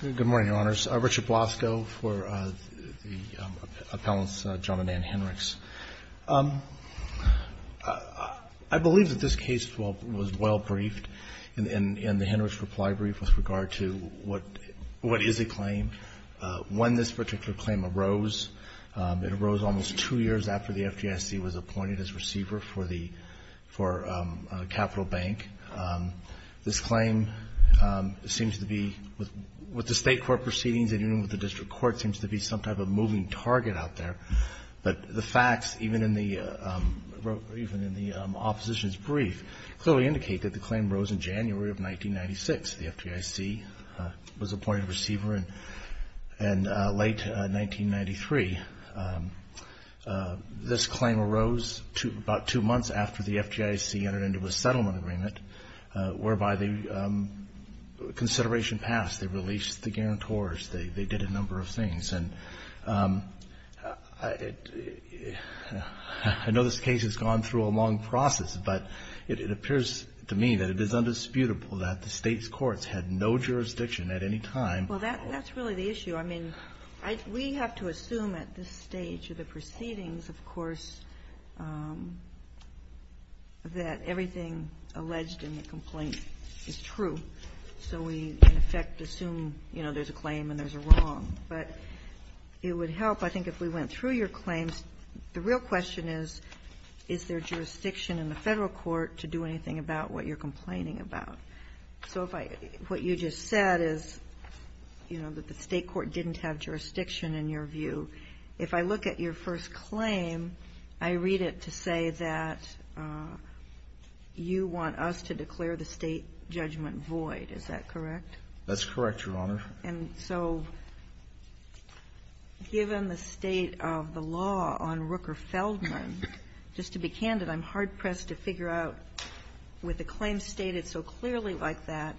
Good morning, Your Honors. Richard Blasco for the appellants, John and Anne Henrichs. I believe that this case was well briefed in the Henrichs reply brief with regard to what is a claim. When this particular claim arose, it arose almost two years after the FGIC was appointed as receiver for Capital Bank. This claim seems to be, with the state court proceedings and even with the district court, seems to be some type of moving target out there. But the facts, even in the opposition's brief, clearly indicate that the claim arose in January of 1996. The FGIC was appointed receiver in late 1993. This claim arose about two months after the FGIC entered into a settlement agreement whereby the consideration passed. They released the guarantors. They did a number of things. And I know this case has gone through a long process, but it appears to me that it is undisputable that the state's courts had no jurisdiction at any time. Well, that's really the issue. I mean, we have to assume at this stage of the proceedings, of course, that everything alleged in the complaint is true. So we, in effect, assume, you know, there's a claim and there's a wrong. But it would help, I think, if we went through your claims. The real question is, is there jurisdiction in the federal court to do anything about what you're complaining about? So what you just said is, you know, that the state court didn't have jurisdiction, in your view. If I look at your first claim, I read it to say that you want us to declare the state judgment void. Is that correct? That's correct, Your Honor. And so given the state of the law on Rooker-Feldman, just to be candid, I'm hard-pressed to figure out, with a claim stated so clearly like that,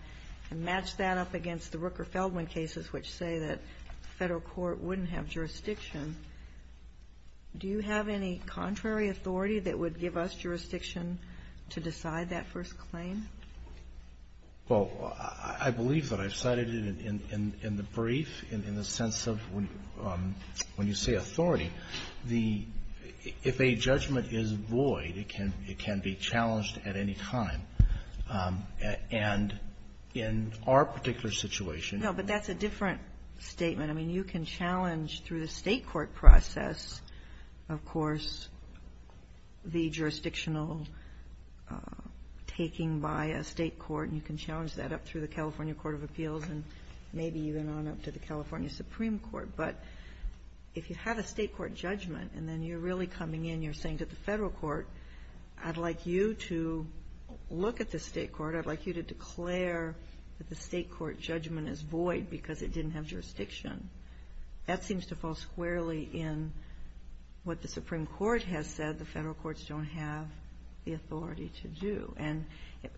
and match that up against the Rooker-Feldman cases which say that the federal court wouldn't have jurisdiction, do you have any contrary authority that would give us jurisdiction to decide that first claim? Well, I believe that I've cited it in the brief, in the sense of when you say authority, if a judgment is void, it can be challenged at any time. And in our particular situation ---- No, but that's a different statement. I mean, you can challenge through the state court process, of course, the jurisdictional taking by a state court, and you can challenge that up through the California Court of Appeals and maybe even on up to the California Supreme Court. But if you have a state court judgment and then you're really coming in, you're saying to the federal court, I'd like you to look at the state court, I'd like you to declare that the state court judgment is void because it didn't have jurisdiction, that seems to fall squarely in what the Supreme Court has said the federal courts don't have the authority to do. And,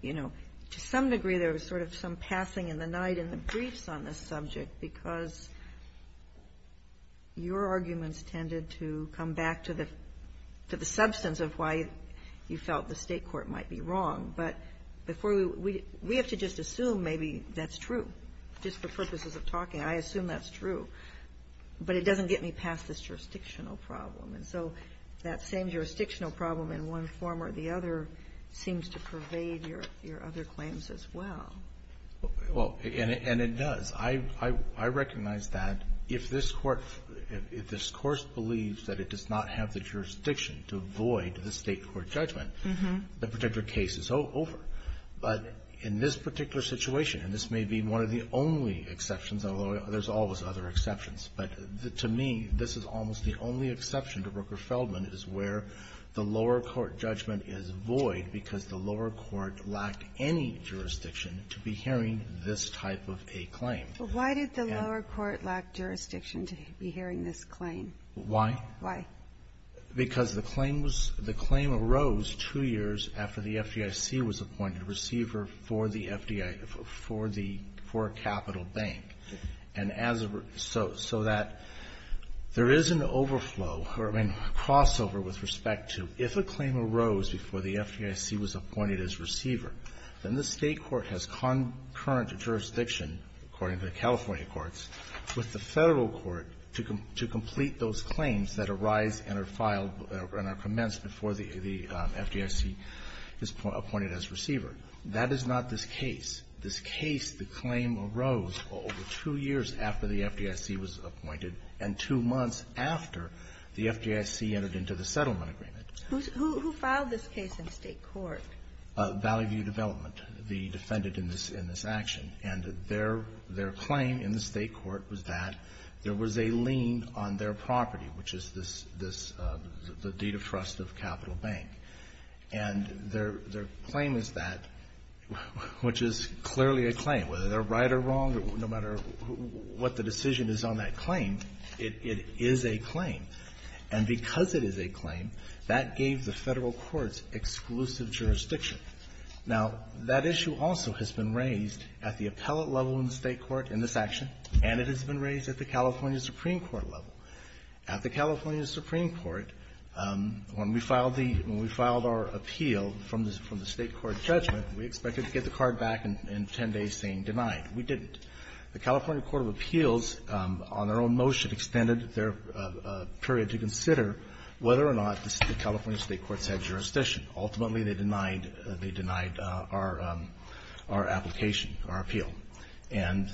you know, to some degree there was sort of some passing in the night in the briefs on this subject because your arguments tended to come back to the substance of why you felt the state court might be wrong. But before we ---- we have to just assume maybe that's true. Just for purposes of talking, I assume that's true. But it doesn't get me past this jurisdictional problem. And so that same jurisdictional problem in one form or the other seems to pervade your other claims as well. Well, and it does. I recognize that if this Court ---- if this Course believes that it does not have the jurisdiction to void the state court judgment, the particular case is over. But in this particular situation, and this may be one of the only exceptions, although there's always other exceptions, but to me this is almost the only exception to Brooker-Feldman is where the lower court judgment is void because the lower court lacked any jurisdiction to be hearing this type of a claim. But why did the lower court lack jurisdiction to be hearing this claim? Why? Why? Because the claim was ---- the claim arose two years after the FDIC was appointed receiver for the FDIC ---- for the ---- for a capital bank. And as a ---- so that there is an overflow or a crossover with respect to if a claim arose before the FDIC was appointed as receiver, then the state court has concurrent jurisdiction, according to the California courts, with the Federal court to complete those claims that arise and are filed and are commenced before the FDIC is appointed as receiver. That is not this case. This case, the claim arose over two years after the FDIC was appointed and two months after the FDIC entered into the settlement agreement. Who filed this case in state court? Valley View Development, the defendant in this action. And their claim in the state court was that there was a lien on their property, which is this, the deed of trust of capital bank. And their claim is that, which is clearly a claim, whether they're right or wrong, no matter what the decision is on that claim, it is a claim. And because it is a claim, that gave the Federal courts exclusive jurisdiction. Now, that issue also has been raised at the appellate level in the state court in this action, and it has been raised at the California Supreme Court level. At the California Supreme Court, when we filed the ‑‑ when we filed our appeal from the state court judgment, we expected to get the card back in 10 days saying denied. We didn't. The California Court of Appeals, on their own motion, extended their period to consider whether or not the California state courts had jurisdiction. Ultimately, they denied our application, our appeal. And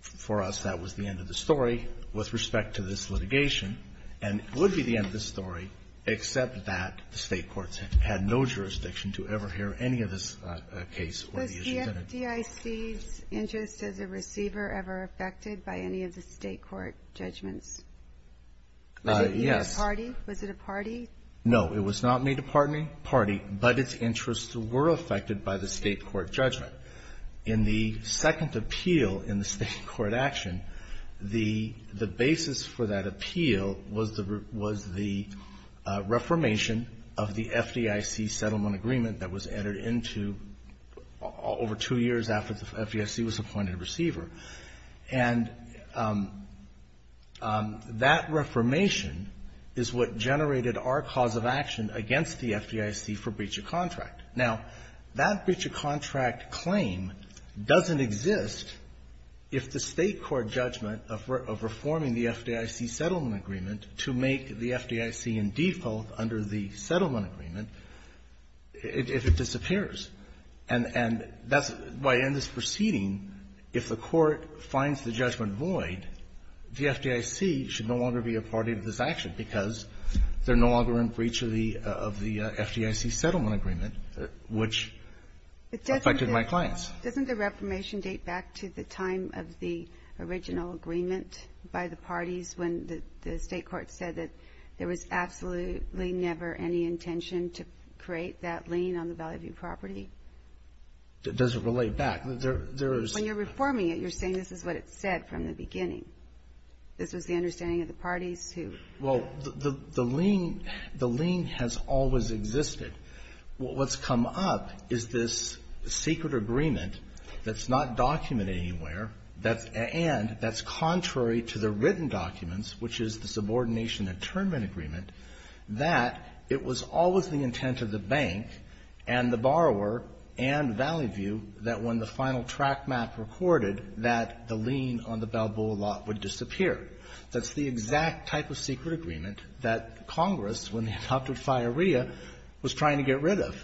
for us, that was the end of the story with respect to this litigation. And it would be the end of the story except that the state courts had no jurisdiction to ever hear any of this case or the issues in it. Was the FDIC's interest as a receiver ever affected by any of the state court judgments? Yes. Was it made a party? Was it a party? No. It was not made a party, but its interests were affected by the state court judgment. In the second appeal in the state court action, the basis for that appeal was the reformation of the FDIC settlement agreement that was entered into over two years after the FDIC was appointed a receiver. And that reformation is what generated our cause of action against the FDIC for breach of contract. Now, that breach of contract claim doesn't exist if the state court judgment of reforming the FDIC settlement agreement to make the FDIC in default under the settlement agreement, if it disappears. And that's why in this proceeding, if the court finds the judgment void, the FDIC should no longer be a party to this action because they're no longer in breach of the FDIC settlement agreement, which affected my clients. Doesn't the reformation date back to the time of the original agreement by the parties when the state court said that there was absolutely never any intention to create that lien on the Valley View property? It doesn't relate back. When you're reforming it, you're saying this is what it said from the beginning. This was the understanding of the parties who ---- Well, the lien has always existed. What's come up is this secret agreement that's not documented anywhere and that's contrary to the written documents, which is the subordination and term agreement, that it was always the intent of the bank and the borrower and Valley View that when the final track map recorded that the lien on the Balboa lot would disappear. That's the exact type of secret agreement that Congress, when they adopted FIREA, was trying to get rid of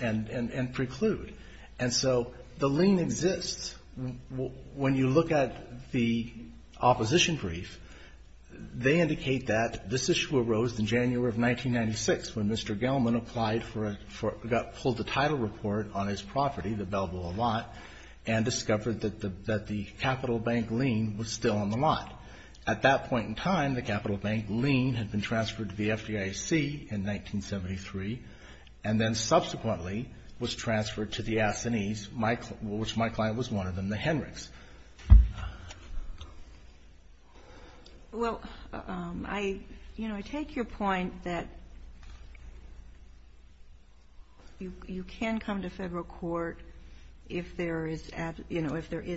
and preclude. And so the lien exists. When you look at the opposition brief, they indicate that this issue arose in January of 1996 when Mr. Gelman pulled the title report on his property, the Balboa lot, and discovered that the capital bank lien was still on the lot. At that point in time, the capital bank lien had been transferred to the FDIC in 1973 and then subsequently was transferred to the Assanese, which my client was one of them, the Henricks. Well, I take your point that you can come to federal court if there is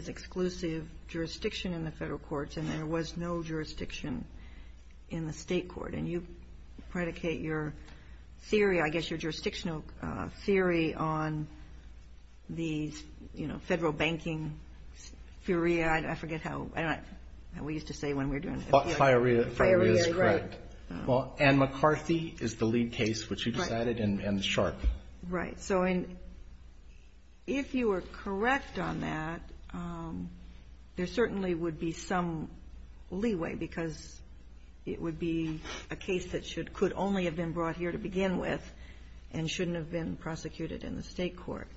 exclusive jurisdiction in the federal courts and there was no jurisdiction in the state court. And you predicate your theory, I guess your jurisdictional theory on the federal banking FIREA. I forget how we used to say when we were doing FIREA. FIREA is correct. Well, Anne McCarthy is the lead case, which you decided, and Sharpe. Right. So if you were correct on that, there certainly would be some leeway, because it would be a case that could only have been brought here to begin with and shouldn't have been prosecuted in the state court.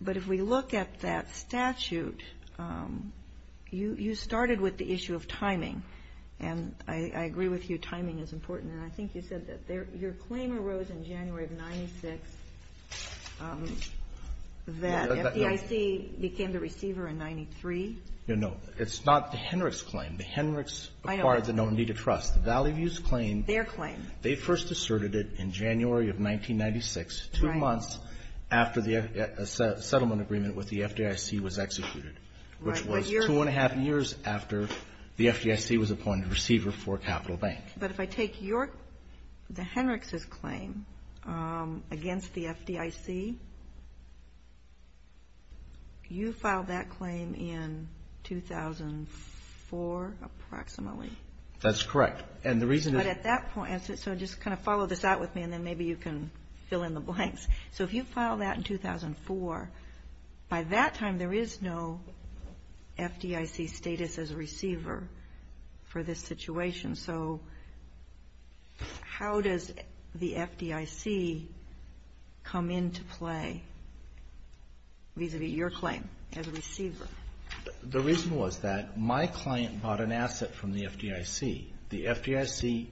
But if we look at that statute, you started with the issue of timing. And I agree with you, timing is important. And I think you said that your claim arose in January of 96, that FDIC became the receiver in 93. No, no. It's not the Henricks claim. The Henricks acquired the Nominee to Trust. The Valley View's claim, they first asserted it in January of 1996, two months after the settlement agreement with the FDIC was executed, which was two and a half years after the FDIC was appointed receiver for a capital bank. But if I take the Henricks' claim against the FDIC, you filed that claim in 2004, approximately. That's correct. And the reason is at that point, so just kind of follow this out with me, and then maybe you can fill in the blanks. So if you filed that in 2004, by that time there is no FDIC status as a receiver for this situation. So how does the FDIC come into play vis-à-vis your claim as a receiver? The reason was that my client bought an asset from the FDIC. The FDIC,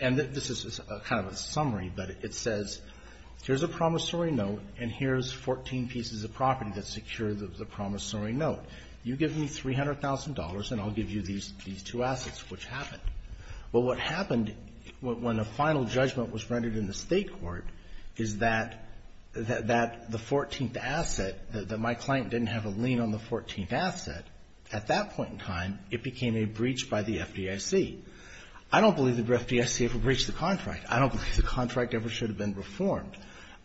and this is kind of a summary, but it says here's a promissory note, and here's 14 pieces of property that secure the promissory note. You give me $300,000, and I'll give you these two assets, which happened. Well, what happened when a final judgment was rendered in the state court is that the 14th asset, that my client didn't have a lien on the 14th asset, at that point in time, it became a breach by the FDIC. I don't believe the FDIC ever breached the contract. I don't believe the contract ever should have been reformed.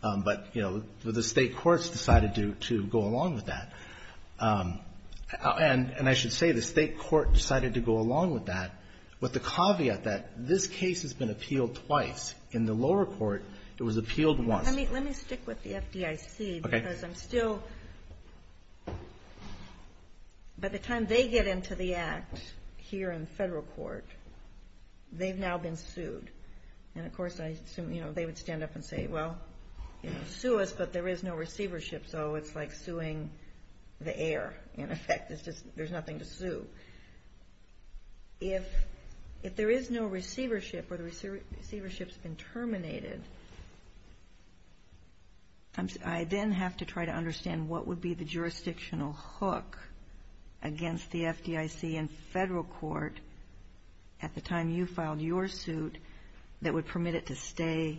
But, you know, the state courts decided to go along with that. And I should say the state court decided to go along with that with the caveat that this case has been appealed twice. In the lower court, it was appealed once. Let me stick with the FDIC, because I'm still... By the time they get into the act here in federal court, they've now been sued. And, of course, I assume, you know, they would stand up and say, well, sue us, but there is no receivership. So it's like suing the air, in effect. It's just there's nothing to sue. If there is no receivership or the receivership's been terminated, I then have to try to understand what would be the jurisdictional hook against the FDIC in federal court at the time you filed your suit that would permit it to stay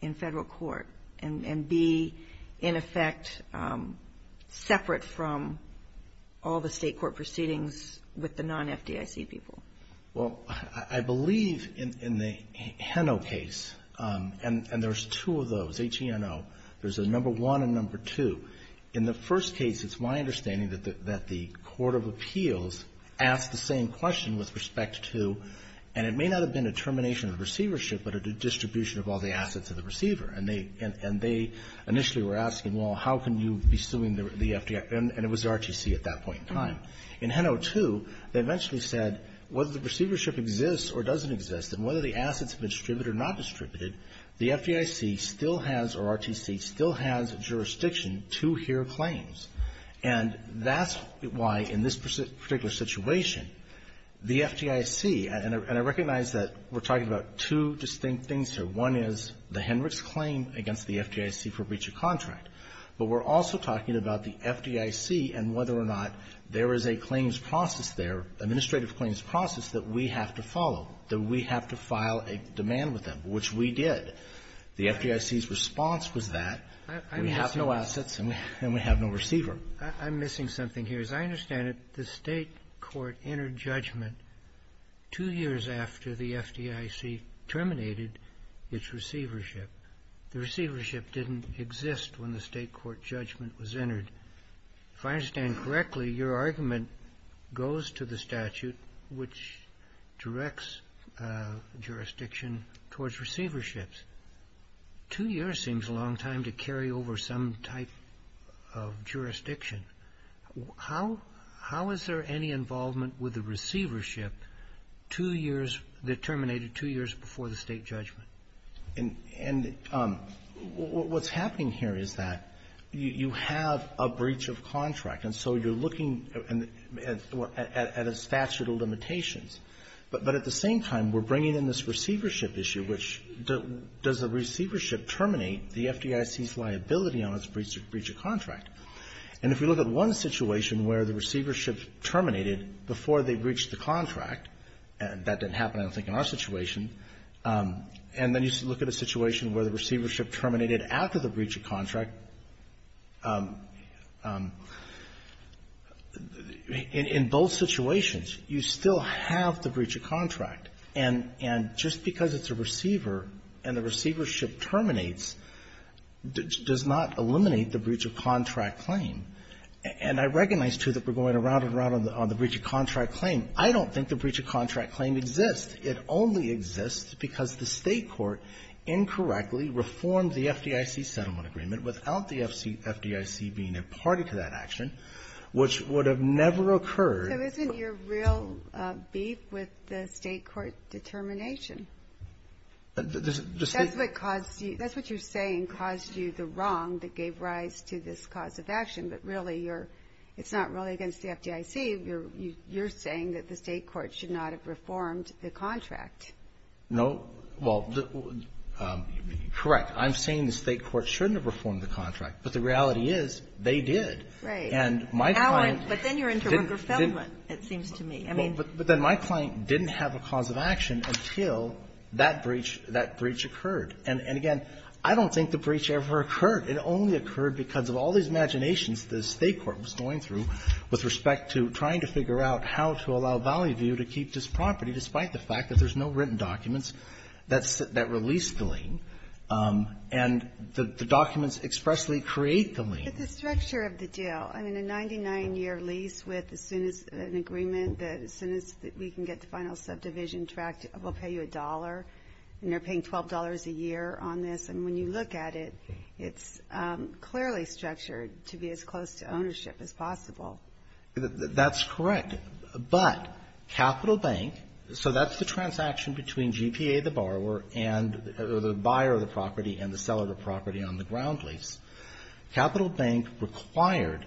in federal court and be, in effect, separate from all the state court proceedings with the non-FDIC people? Well, I believe in the Heno case, and there's two of those, H-E-N-O, there's a number one and number two. In the first case, it's my understanding that the court of appeals asked the same question with respect to, and it may not have been a termination of the receivership, but a distribution of all the assets of the receiver. So how can you be suing the FDIC? And it was RTC at that point in time. In H-E-N-O 2, they eventually said, whether the receivership exists or doesn't exist, and whether the assets have been distributed or not distributed, the FDIC still has, or RTC still has jurisdiction to hear claims. And that's why, in this particular situation, the FDIC, and I recognize that we're talking about two distinct things here. One is the Hendricks claim against the FDIC for breach of contract. But we're also talking about the FDIC and whether or not there is a claims process there, administrative claims process, that we have to follow, that we have to file a demand with them, which we did. The FDIC's response was that. We have no assets, and we have no receiver. I'm missing something here. As I understand it, the state court entered judgment two years after the FDIC terminated its receivership. The receivership didn't exist when the state court judgment was entered. If I understand correctly, your argument goes to the statute, which directs jurisdiction towards receiverships. Two years seems a long time to carry over some type of jurisdiction. How is there any involvement with the receivership that terminated two years before the state judgment? And what's happening here is that you have a breach of contract, and so you're looking at a statute of limitations. But at the same time, we're bringing in this receivership issue, which does the receivership terminate the FDIC's liability on its breach of contract? And if we look at one situation where the receivership terminated before they breached the contract, and that didn't happen, I don't think, in our situation, and then you look at a situation where the receivership terminated after the breach of contract, in both situations, you still have the breach of contract. And just because it's a receiver and the receivership terminates does not eliminate the breach of contract claim. And I recognize, too, that we're going around and around on the breach of contract claim. I don't think the breach of contract claim exists. It only exists because the state court incorrectly reformed the FDIC settlement agreement without the FDIC being a party to that action, which would have never occurred. So isn't your real beef with the state court determination? That's what caused you, that's what you're saying caused you the wrong that gave rise to this cause of action. But really, you're, it's not really against the FDIC. You're saying that the state court should not have reformed the contract. No. Well, correct. I'm saying the state court shouldn't have reformed the contract. But the reality is, they did. Right. And my client didn't. But then you're into Rooker Feldman, it seems to me. But then my client didn't have a cause of action until that breach occurred. And again, I don't think the breach ever occurred. It only occurred because of all these imaginations the state court was going through with respect to trying to figure out how to allow Valley View to keep this property despite the fact that there's no written documents that release the lien. And the documents expressly create the lien. With the structure of the deal, I mean, a 99-year lease with as soon as an agreement, as soon as we can get the final subdivision tracked, we'll pay you a dollar. And they're paying $12 a year on this. And when you look at it, it's clearly structured to be as close to ownership as possible. That's correct. But Capital Bank, so that's the transaction between GPA, the borrower, and the buyer of the property and the seller of the property on the ground lease. Capital Bank required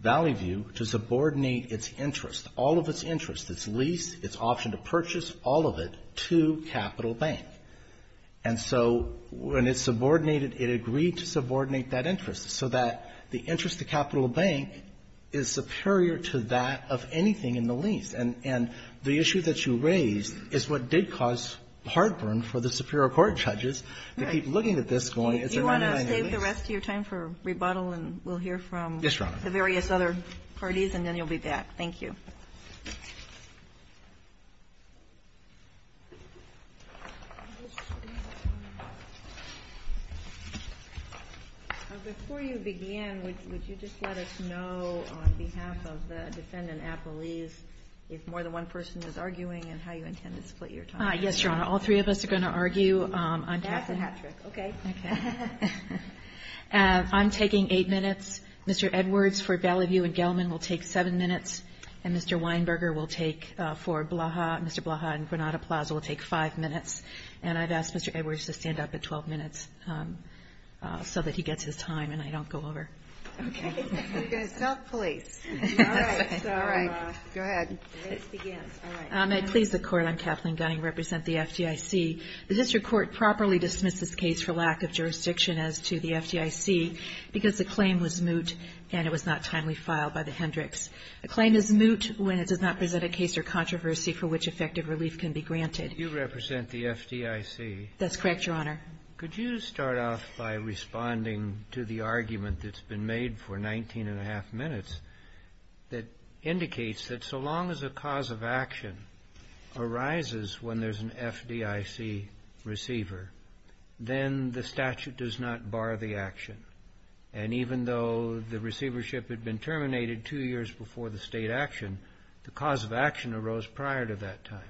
Valley View to subordinate its interest, all of its interest, its lease, its option to purchase, all of it, to Capital Bank. And so when it subordinated, it agreed to subordinate that interest so that the interest to Capital Bank is superior to that of anything in the lease. And the issue that you raised is what did cause heartburn for the superior court judges to keep looking at this going, is there a 99-year lease? I'll give the rest of your time for rebuttal, and we'll hear from the various other parties, and then you'll be back. Thank you. Before you begin, would you just let us know on behalf of the defendant at the lease if more than one person is arguing and how you intend to split your time? Yes, Your Honor. All three of us are going to argue on Capitol Hill. Okay. Okay. I'm taking eight minutes. Mr. Edwards for Valley View and Gell-Mann will take seven minutes, and Mr. Weinberger will take for Mr. Blaha and Granada Plaza will take five minutes. And I've asked Mr. Edwards to stand up at 12 minutes so that he gets his time and I don't go over. Okay. Self-police. All right. All right. Go ahead. May it please the Court, I'm Kathleen Gunning, represent the FDIC. The district court properly dismissed this case for lack of jurisdiction as to the FDIC because the claim was moot and it was not timely filed by the Hendricks. A claim is moot when it does not present a case or controversy for which effective relief can be granted. You represent the FDIC. That's correct, Your Honor. Could you start off by responding to the argument that's been made for 19 and a half minutes that indicates that so long as a cause of action arises when there's an FDIC receiver, then the statute does not bar the action. And even though the receivership had been terminated two years before the State action, the cause of action arose prior to that time.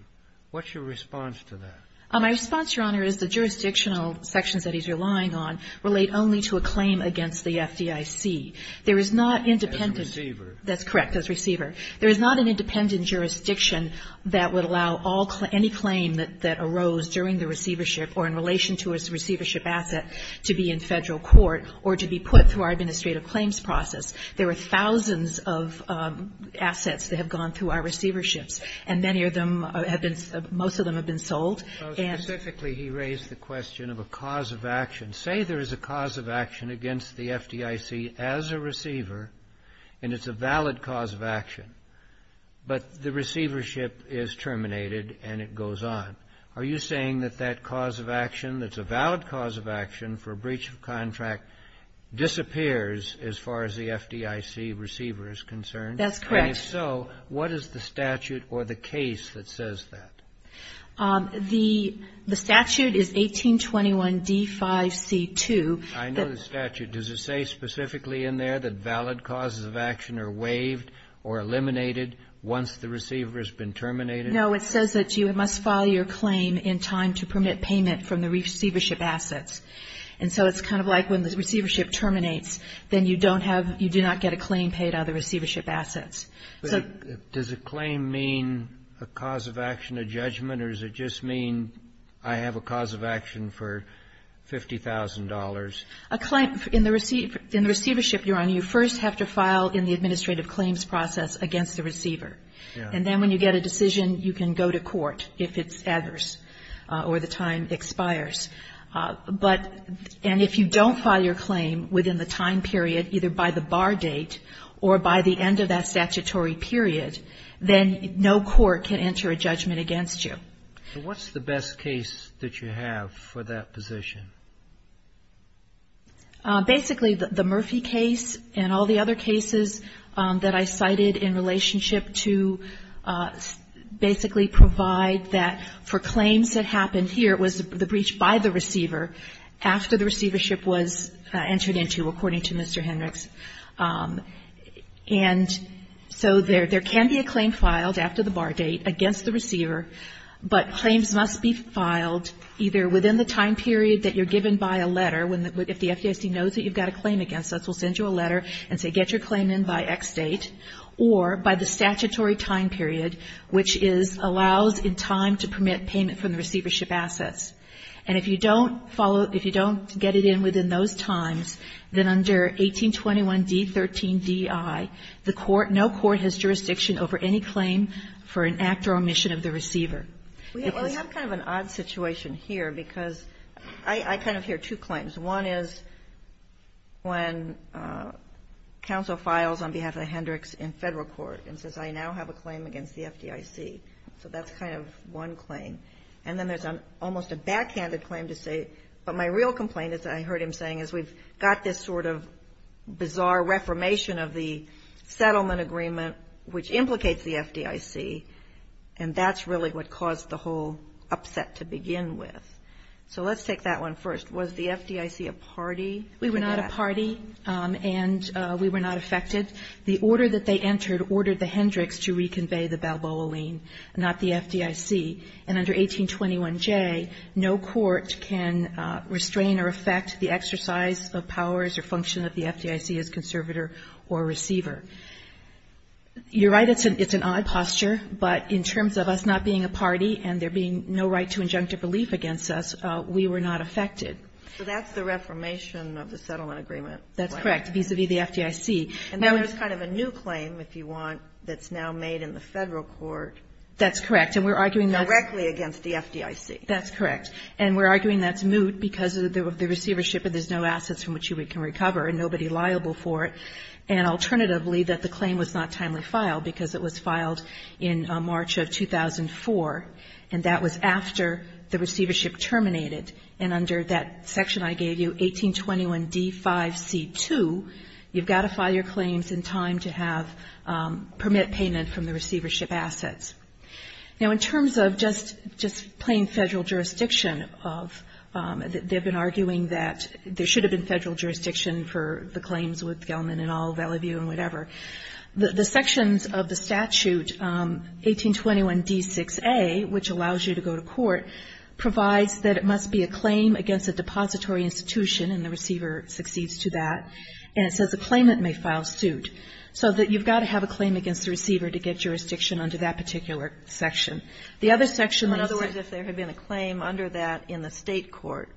What's your response to that? My response, Your Honor, is the jurisdictional sections that he's relying on relate only to a claim against the FDIC. There is not independent. As a receiver. That's correct, as a receiver. There is not an independent jurisdiction that would allow any claim that arose during the receivership or in relation to its receivership asset to be in Federal court or to be put through our administrative claims process. There are thousands of assets that have gone through our receiverships, and many of them have been – most of them have been sold. So specifically he raised the question of a cause of action. Say there is a cause of action against the FDIC as a receiver, and it's a valid cause of action, but the receivership is terminated and it goes on. Are you saying that that cause of action that's a valid cause of action for breach of contract disappears as far as the FDIC receiver is concerned? That's correct. And if so, what is the statute or the case that says that? The statute is 1821d5c2. I know the statute. Does it say specifically in there that valid causes of action are waived or eliminated once the receiver has been terminated? No. It says that you must file your claim in time to permit payment from the receivership assets. And so it's kind of like when the receivership terminates, then you don't have – you do not get a claim paid out of the receivership assets. Does a claim mean a cause of action, a judgment? Or does it just mean I have a cause of action for $50,000? A claim – in the receivership, Your Honor, you first have to file in the administrative claims process against the receiver. And then when you get a decision, you can go to court if it's adverse or the time expires. But – and if you don't file your claim within the time period, either by the bar date or by the end of that statutory period, then no court can enter a judgment against you. So what's the best case that you have for that position? Basically, the Murphy case and all the other cases that I cited in relationship to basically provide that for claims that happened here, it was the breach by the And so there can be a claim filed after the bar date against the receiver, but claims must be filed either within the time period that you're given by a letter, if the FDIC knows that you've got a claim against us, we'll send you a letter and say get your claim in by X date, or by the statutory time period, which is – allows in time to permit payment from the receivership assets. And if you don't follow – if you don't get it in within those times, then under 1821d13di, the court – no court has jurisdiction over any claim for an act or omission of the receiver. It was – We have kind of an odd situation here, because I kind of hear two claims. One is when counsel files on behalf of the Hendricks in Federal court, and says I now have a claim against the FDIC. So that's kind of one claim. And then there's almost a backhanded claim to say, but my real complaint, as I heard him saying, is we've got this sort of bizarre reformation of the settlement agreement, which implicates the FDIC, and that's really what caused the whole upset to begin with. So let's take that one first. Was the FDIC a party? We were not a party, and we were not affected. The order that they entered ordered the Hendricks to reconvey the Balboa lien, not the FDIC. And under 1821J, no court can restrain or affect the exercise of powers or function of the FDIC as conservator or receiver. You're right, it's an odd posture, but in terms of us not being a party and there being no right to injunctive relief against us, we were not affected. So that's the reformation of the settlement agreement. That's correct, vis-à-vis the FDIC. And then there's kind of a new claim, if you want, that's now made in the Federal court. That's correct. And we're arguing that's. Directly against the FDIC. That's correct. And we're arguing that's moot because of the receivership and there's no assets from which you can recover and nobody liable for it. And alternatively, that the claim was not timely filed because it was filed in March of 2004, and that was after the receivership terminated. And under that section I gave you, 1821D5C2, you've got to file your claims in time to have permit payment from the receivership assets. Now, in terms of just plain Federal jurisdiction, they've been arguing that there should have been Federal jurisdiction for the claims with Gelman et al., Valleyview and whatever. The sections of the statute, 1821D6A, which allows you to go to court, provides that it must be a claim against a depository institution, and the receiver succeeds to that, and it says a claimant may file suit. So that you've got to have a claim against the receiver to get jurisdiction under that particular section. The other section of the statute. In other words, if there had been a claim under that in the State court,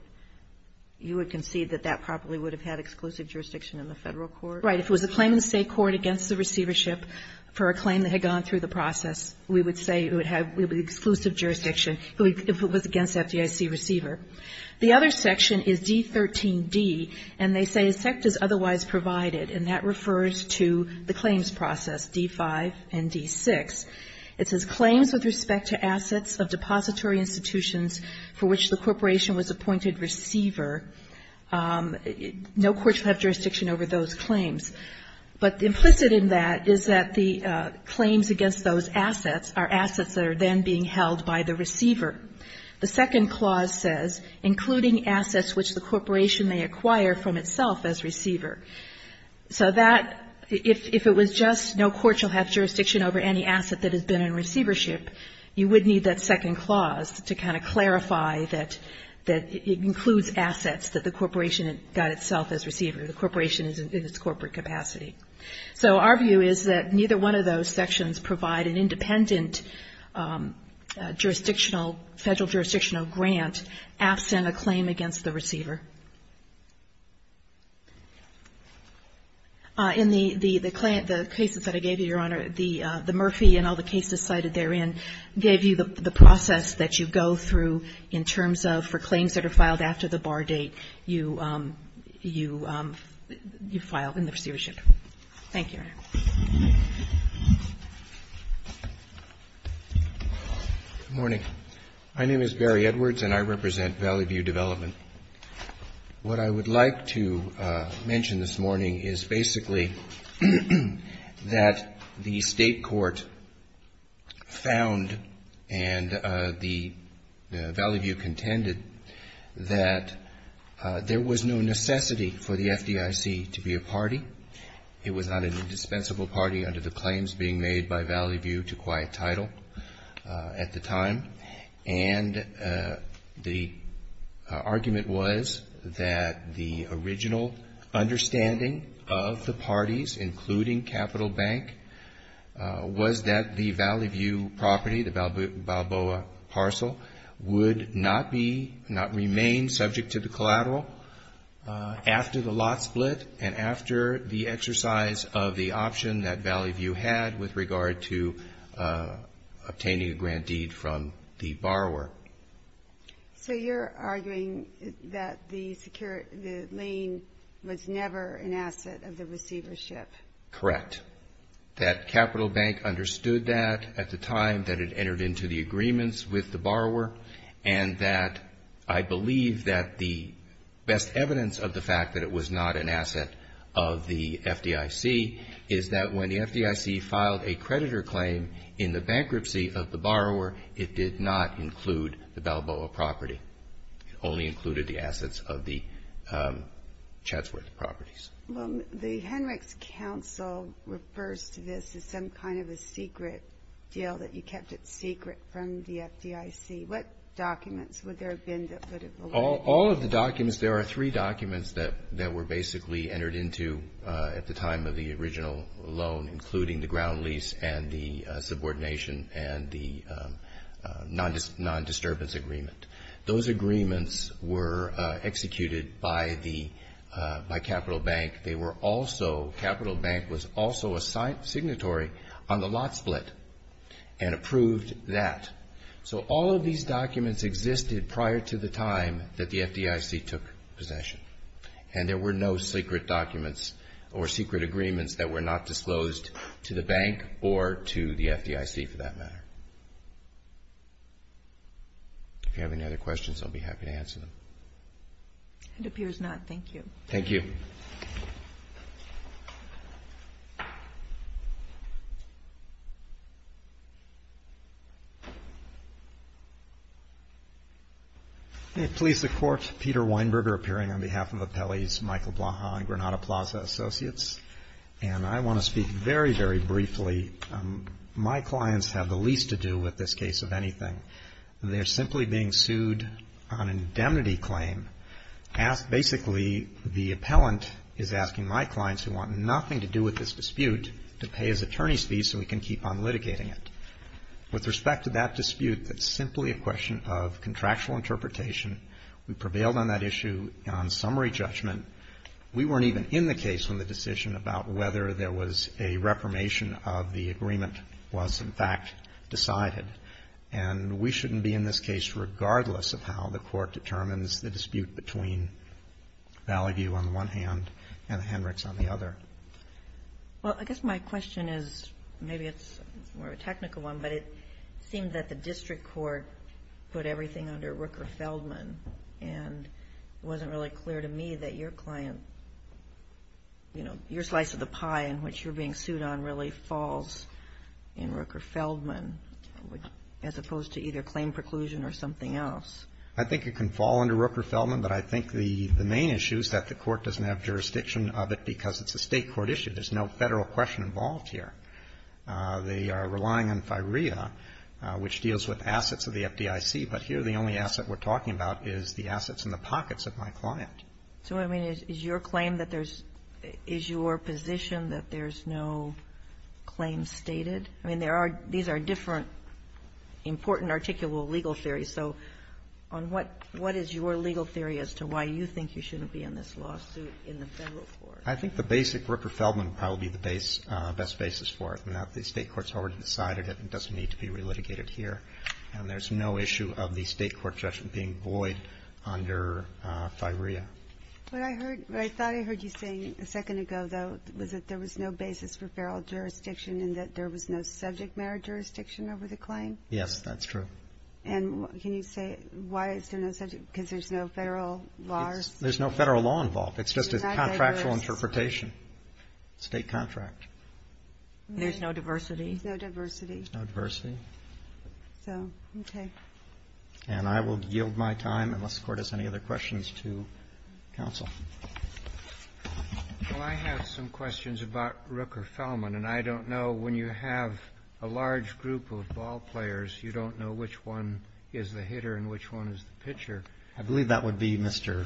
you would concede that that probably would have had exclusive jurisdiction in the Federal court? Right. If it was a claim in the State court against the receivership for a claim that had gone through the process, we would say it would have exclusive jurisdiction if it was against the FDIC receiver. The other section is D13D, and they say a sect is otherwise provided, and that refers to the claims process, D5 and D6. It says, Claims with respect to assets of depository institutions for which the corporation was appointed receiver. No court should have jurisdiction over those claims. But implicit in that is that the claims against those assets are assets that are then being held by the receiver. The second clause says, Including assets which the corporation may acquire from itself as receiver. So that, if it was just no court shall have jurisdiction over any asset that has been in receivership, you would need that second clause to kind of clarify that it includes assets that the corporation got itself as receiver. The corporation is in its corporate capacity. So our view is that neither one of those sections provide an independent jurisdictional, Federal jurisdictional grant absent a claim against the receiver. In the cases that I gave you, Your Honor, the Murphy and all the cases cited therein gave you the process that you go through in terms of, for claims that are filed after the bar date, you file in the receivership. Thank you, Your Honor. Good morning. My name is Barry Edwards, and I represent Valley View Development. What I would like to mention this morning is basically that the State Court found and the Valley View contended that there was no necessity for the FDIC to be a party. It was not an indispensable party under the claims being made by Valley View to quiet title at the time. And the argument was that the original understanding of the parties, including Capital Bank, was that the Valley View property, the Balboa parcel, would not be, not remain subject to the collateral after the lot split and after the exercise of the option that Valley View had with regard to obtaining a grant deed from the borrower. So you're arguing that the secure, the lien was never an asset of the receivership? Correct. That Capital Bank understood that at the time that it entered into the agreements with the borrower, and that I believe that the best evidence of the fact that it was not an asset of the FDIC is that when the FDIC filed a creditor claim in the bankruptcy of the borrower, it did not include the Balboa property. It only included the assets of the Chatsworth properties. Well, the Henrichs Council refers to this as some kind of a secret deal that you kept it secret from the FDIC. What documents would there have been that would have allowed it? All of the documents, there are three documents that were basically entered into at the time of the original loan, including the ground lease and the subordination and the non-disturbance agreement. Those agreements were executed by Capital Bank. They were also, Capital Bank was also a signatory on the lot split and approved that. So all of these documents existed prior to the time that the FDIC took possession, and there were no secret documents or secret agreements that were not disclosed to the bank or to the FDIC, for that matter. If you have any other questions, I'll be happy to answer them. It appears not. Thank you. Thank you. May it please the Court. Peter Weinberger appearing on behalf of Appellees Michael Blaha and Granada Plaza Associates. And I want to speak very, very briefly. My clients have the least to do with this case of anything. They're simply being sued on an indemnity claim. Basically, the appellant is asking my clients, who want nothing to do with this dispute, to pay his attorney's fees so we can keep on litigating it. With respect to that dispute, it's simply a question of contractual interpretation. We prevailed on that issue on summary judgment. We weren't even in the case when the decision about whether there was a reformation of the agreement was, in fact, decided. And we shouldn't be in this case regardless of how the Court determines the dispute between Valley View on the one hand and the Hendricks on the other. Well, I guess my question is, maybe it's more of a technical one, but it seems that the district court put everything under Rooker-Feldman. And it wasn't really clear to me that your client, you know, your slice of the pie in which you're being sued on really falls in Rooker-Feldman, as opposed to either claim preclusion or something else. I think it can fall under Rooker-Feldman, but I think the main issue is that the Court doesn't have jurisdiction of it because it's a state court issue. There's no Federal question involved here. They are relying on FIREA, which deals with assets of the FDIC. But here the only asset we're talking about is the assets in the pockets of my client. So, I mean, is your claim that there's – is your position that there's no claim stated? I mean, there are – these are different important articulable legal theories. So on what – what is your legal theory as to why you think you shouldn't be in this lawsuit in the Federal court? I think the basic Rooker-Feldman would probably be the base – best basis for it, and that the state courts already decided it and it doesn't need to be relitigated here. And there's no issue of the state court judgment being void under FIREA. What I heard – what I thought I heard you saying a second ago, though, was that there was no basis for feral jurisdiction and that there was no subject matter jurisdiction over the claim? Yes, that's true. And can you say why is there no subject – because there's no Federal law? There's no Federal law involved. It's just a contractual interpretation. State contract. There's no diversity. There's no diversity. There's no diversity. So, okay. And I will yield my time unless the Court has any other questions to counsel. Well, I have some questions about Rooker-Feldman, and I don't know when you have a large group of ballplayers, you don't know which one is the hitter and which one is the pitcher. I believe that would be Mr.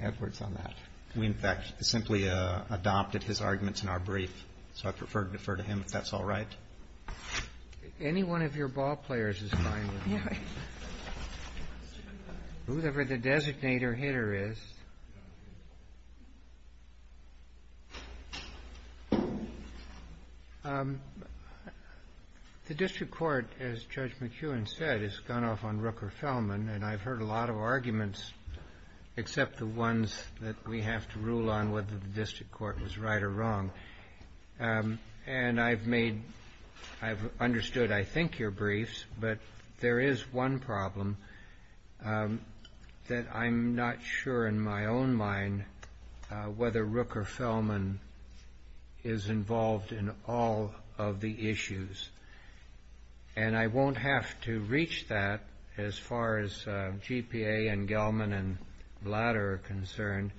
Edwards on that. We, in fact, simply adopted his arguments in our brief. So I'd prefer to defer to him if that's all right. Whoever the designator hitter is. The district court, as Judge McEwen said, has gone off on Rooker-Feldman, and I've heard a lot of arguments except the ones that we have to rule on whether the district court was right or wrong. And I've made, I've understood, I think, your briefs, but there is one problem that I'm not sure in my own mind whether Rooker-Feldman is involved in all of the issues. And I won't have to reach that as far as GPA and Gelman and Blatter are concerned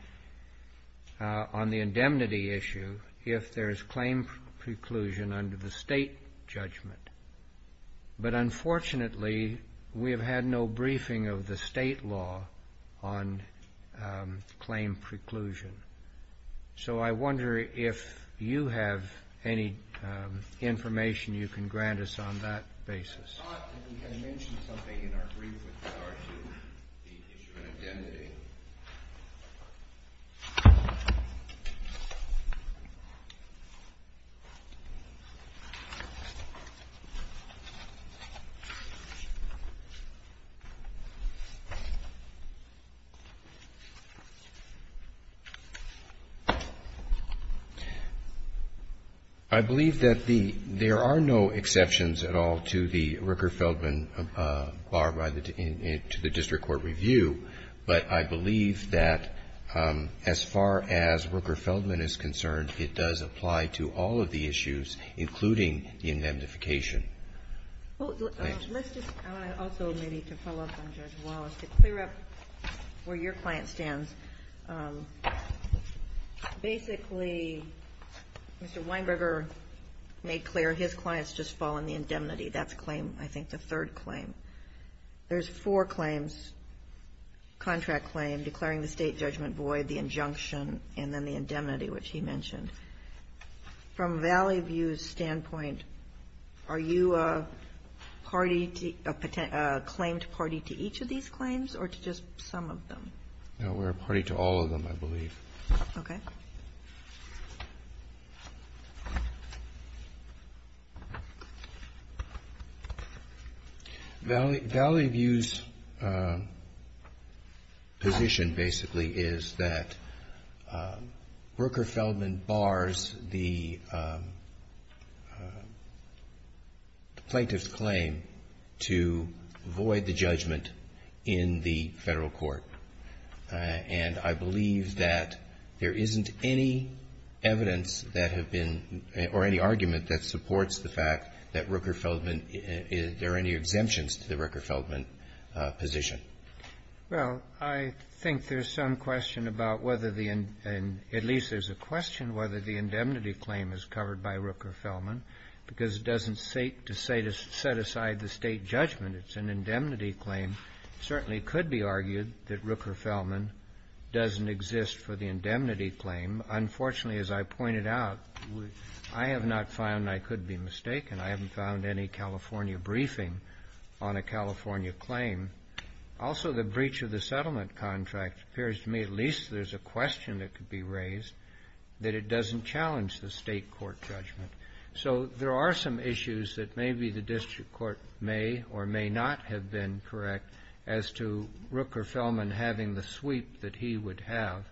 on the indemnity issue if there is claim preclusion under the state judgment. But unfortunately, we have had no briefing of the state law on claim preclusion. So I wonder if you have any information you can grant us on that basis. I thought that we had mentioned something in our brief with regard to the district indemnity. I believe that there are no exceptions at all to the Rooker-Feldman bar to the district court review, but I believe that as far as Rooker-Feldman is concerned, it does apply to all of the issues, including the indemnification. Well, let's just, I want to also maybe to follow up on Judge Wallace to clear up where your client stands. Basically, Mr. Weinberger made clear his clients just fall in the indemnity. That's claim, I think, the third claim. There's four claims, contract claim, declaring the state judgment void, the injunction, and then the indemnity, which he mentioned. From Valley View's standpoint, are you a party, a claimed party to each of these claims or to just some of them? No, we're a party to all of them, I believe. Okay. Valley View's position basically is that Rooker-Feldman bars the plaintiff's claim to void the judgment in the federal court, and I believe that there isn't any evidence that have been, or any argument that supports the fact that Rooker-Feldman, there are any exemptions to the Rooker-Feldman position. Well, I think there's some question about whether the, at least there's a question whether the indemnity claim is covered by Rooker-Feldman because it doesn't set aside the state judgment. It's an indemnity claim. It certainly could be argued that Rooker-Feldman doesn't exist for the indemnity claim. Unfortunately, as I pointed out, I have not found, I could be mistaken, I haven't found any California briefing on a California claim. Also, the breach of the settlement contract appears to me, at least there's a question that could be raised that it doesn't challenge the state court judgment. So there are some issues that maybe the district court may or may not have been correct as to Rooker-Feldman having the sweep that he would have,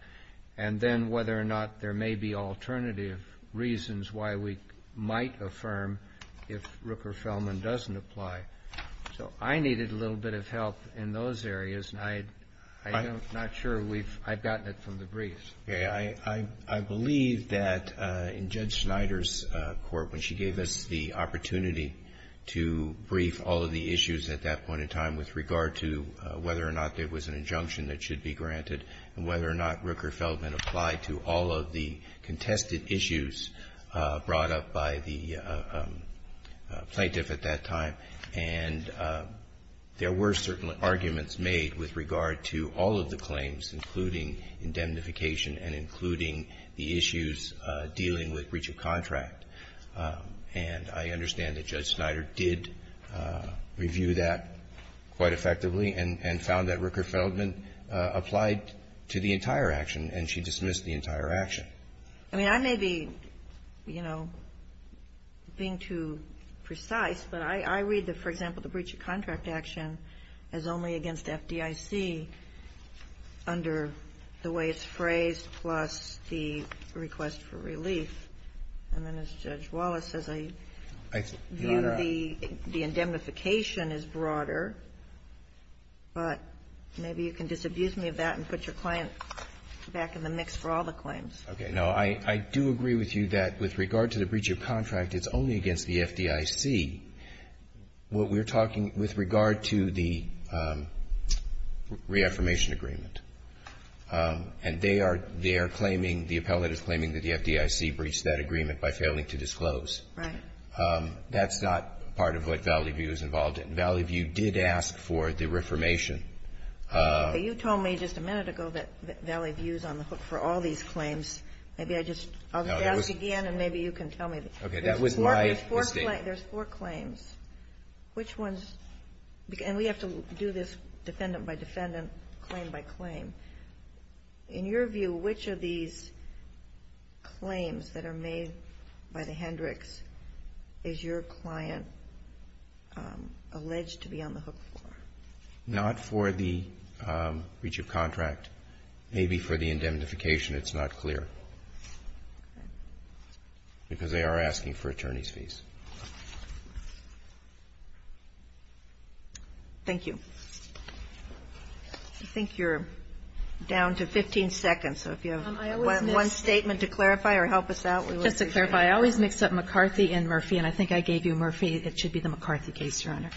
and then whether or not there may be alternative reasons why we might affirm if Rooker-Feldman doesn't apply. So I needed a little bit of help in those areas, and I'm not sure we've, I've gotten it from the briefs. Roberts, I believe that in Judge Snyder's court, when she gave us the opportunity to brief all of the issues at that point in time with regard to whether or not there was an injunction that should be granted and whether or not Rooker-Feldman applied to all of the contested issues brought up by the plaintiff at that time, and there were certain arguments made with regard to all of the claims, including indemnification and including the issues dealing with breach of contract. And I understand that Judge Snyder did review that quite effectively and found that Rooker-Feldman applied to the entire action, and she dismissed the entire action. I mean, I may be, you know, being too precise, but I read, for example, the breach of contract action as only against FDIC under the way it's phrased plus the request for relief, and then as Judge Wallace says, I view the indemnification as broader, but maybe you can disabuse me of that and put your client back in the mix for all the claims. Roberts. Now, I do agree with you that with regard to the breach of contract, it's only against the FDIC what we're talking with regard to the reaffirmation agreement. And they are there claiming, the appellate is claiming that the FDIC breached that agreement by failing to disclose. Right. That's not part of what Valley View is involved in. Valley View did ask for the reaffirmation. You told me just a minute ago that Valley View is on the hook for all these claims. Maybe I'll just ask again, and maybe you can tell me. Okay. That was my mistake. There's four claims. Which ones? And we have to do this defendant by defendant, claim by claim. In your view, which of these claims that are made by the Hendricks is your client alleged to be on the hook for? Not for the breach of contract. Maybe for the indemnification. It's not clear. Because they are asking for attorney's fees. Thank you. I think you're down to 15 seconds. So if you have one statement to clarify or help us out. Just to clarify, I always mix up McCarthy and Murphy, and I think I gave you Murphy. It should be the McCarthy case, Your Honor,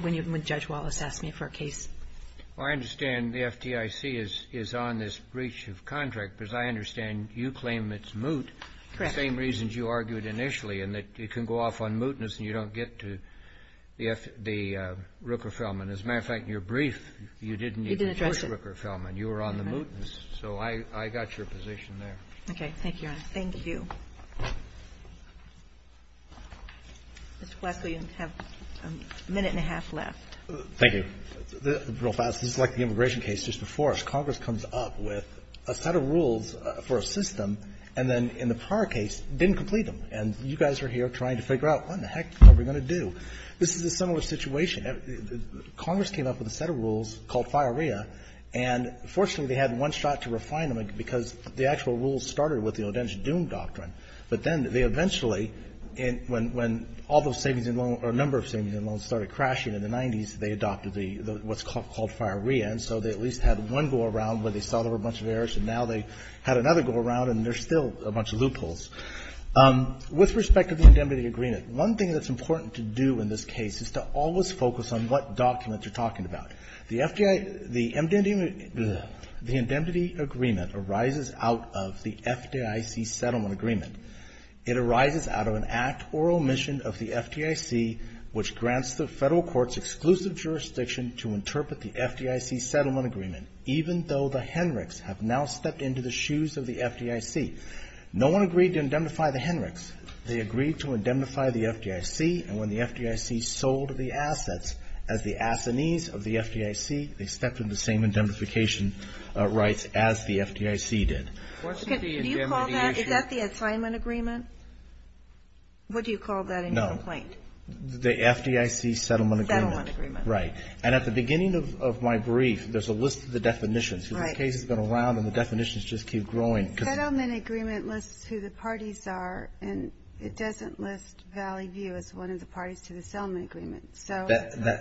when Judge Wallace asked me for a case. Well, I understand the FDIC is on this breach of contract, because I understand you claim it's moot. Correct. The same reasons you argued initially, and that it can go off on mootness and you don't get to the Rooker-Feldman. As a matter of fact, in your brief, you didn't even push Rooker-Feldman. You were on the mootness. So I got your position there. Okay. Thank you, Your Honor. Thank you. Mr. Fletcher, you have a minute and a half left. Thank you. Real fast, this is like the immigration case just before us. Congress comes up with a set of rules for a system, and then in the prior case, didn't complete them. And you guys are here trying to figure out, what in the heck are we going to do? This is a similar situation. Congress came up with a set of rules called FIREA, and fortunately, they had one shot to refine them, because the actual rules started with the Odentic Doom Doctrine. But then they eventually, when all those savings and loans or a number of savings and loans started crashing in the 90s, they adopted what's called FIREA. And so they at least had one go around where they solved a bunch of errors, and now they had another go around, and there's still a bunch of loopholes. With respect to the indemnity agreement, one thing that's important to do in this case is to always focus on what documents you're talking about. The indemnity agreement arises out of the FDIC settlement agreement. It arises out of an act or omission of the FDIC, which grants the federal court's exclusive jurisdiction to interpret the FDIC settlement agreement, even though the Henrichs have now stepped into the shoes of the FDIC. No one agreed to indemnify the Henrichs. They agreed to indemnify the FDIC, and when the FDIC sold the assets as the assinees of the FDIC, they accepted the same indemnification rights as the FDIC did. Can you call that, is that the assignment agreement? What do you call that in your complaint? No. The FDIC settlement agreement. The settlement agreement. Right. And at the beginning of my brief, there's a list of the definitions. Right. Because the case has been around, and the definitions just keep growing. Because the settlement agreement lists who the parties are, and it doesn't list Valley View as one of the parties to the settlement agreement. So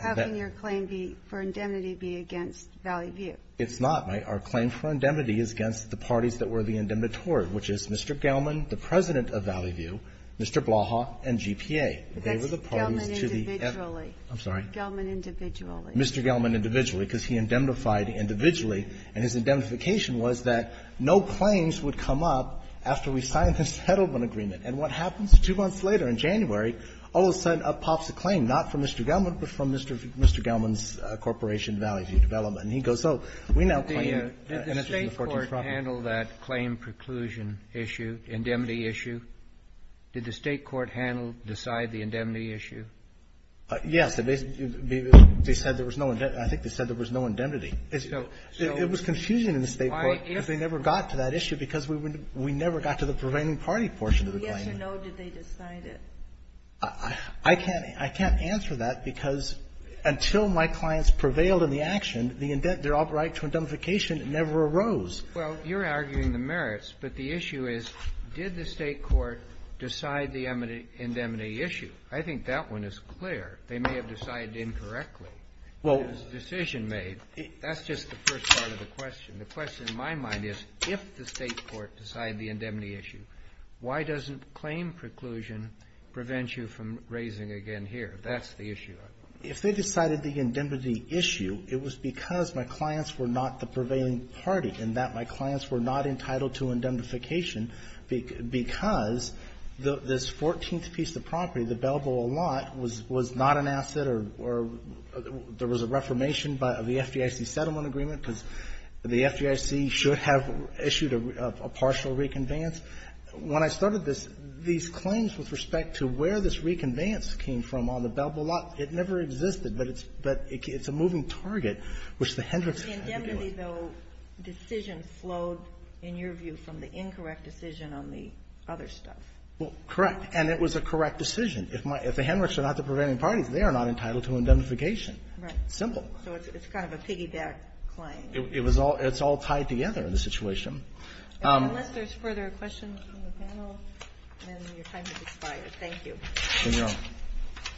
how can your claim be, for indemnity, be against Valley View? It's not. Our claim for indemnity is against the parties that were the indemnitory, which is Mr. Gelman, the President of Valley View, Mr. Blaha, and GPA. They were the parties to the FDIC. But that's Gelman individually. I'm sorry? Gelman individually. Mr. Gelman individually, because he indemnified individually. And his indemnification was that no claims would come up after we signed the settlement agreement. And what happens two months later in January, all of a sudden, up pops a claim, not from Mr. Gelman, but from Mr. Gelman's corporation, Valley View Development. And he goes, oh, we now claim Mrs. McForty's property. Did the State court handle that claim preclusion issue, indemnity issue? Did the State court handle, decide the indemnity issue? Yes. They said there was no indemnity. I think they said there was no indemnity. It was confusion in the State court because they never got to that issue because we never got to the prevailing party portion of the claim. Yes or no, did they decide it? I can't answer that because until my clients prevailed in the action, their right to indemnification never arose. Well, you're arguing the merits. But the issue is, did the State court decide the indemnity issue? I think that one is clear. They may have decided incorrectly. It was a decision made. That's just the first part of the question. The question in my mind is, if the State court decided the indemnity issue, why doesn't claim preclusion prevent you from raising again here? That's the issue. If they decided the indemnity issue, it was because my clients were not the prevailing party and that my clients were not entitled to indemnification because this 14th piece of property, the Belleville lot, was not an asset or there was a reformation by the FDIC settlement agreement because the FDIC should have issued a partial reconveyance. When I started this, these claims with respect to where this reconveyance came from on the Belleville lot, it never existed. But it's a moving target, which the Hendricks had to deal with. The indemnity, though, decision flowed, in your view, from the incorrect decision on the other stuff. Correct. And it was a correct decision. If the Hendricks are not the prevailing parties, they are not entitled to indemnification. Right. Simple. So it's kind of a piggyback claim. It's all tied together in the situation. Unless there's further questions from the panel, then your time has expired. Thank you. Thank you all.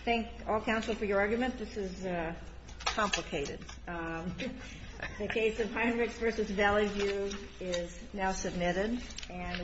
Thank all counsel for your argument. This is complicated. The case of Hendricks v. Valley View is now submitted.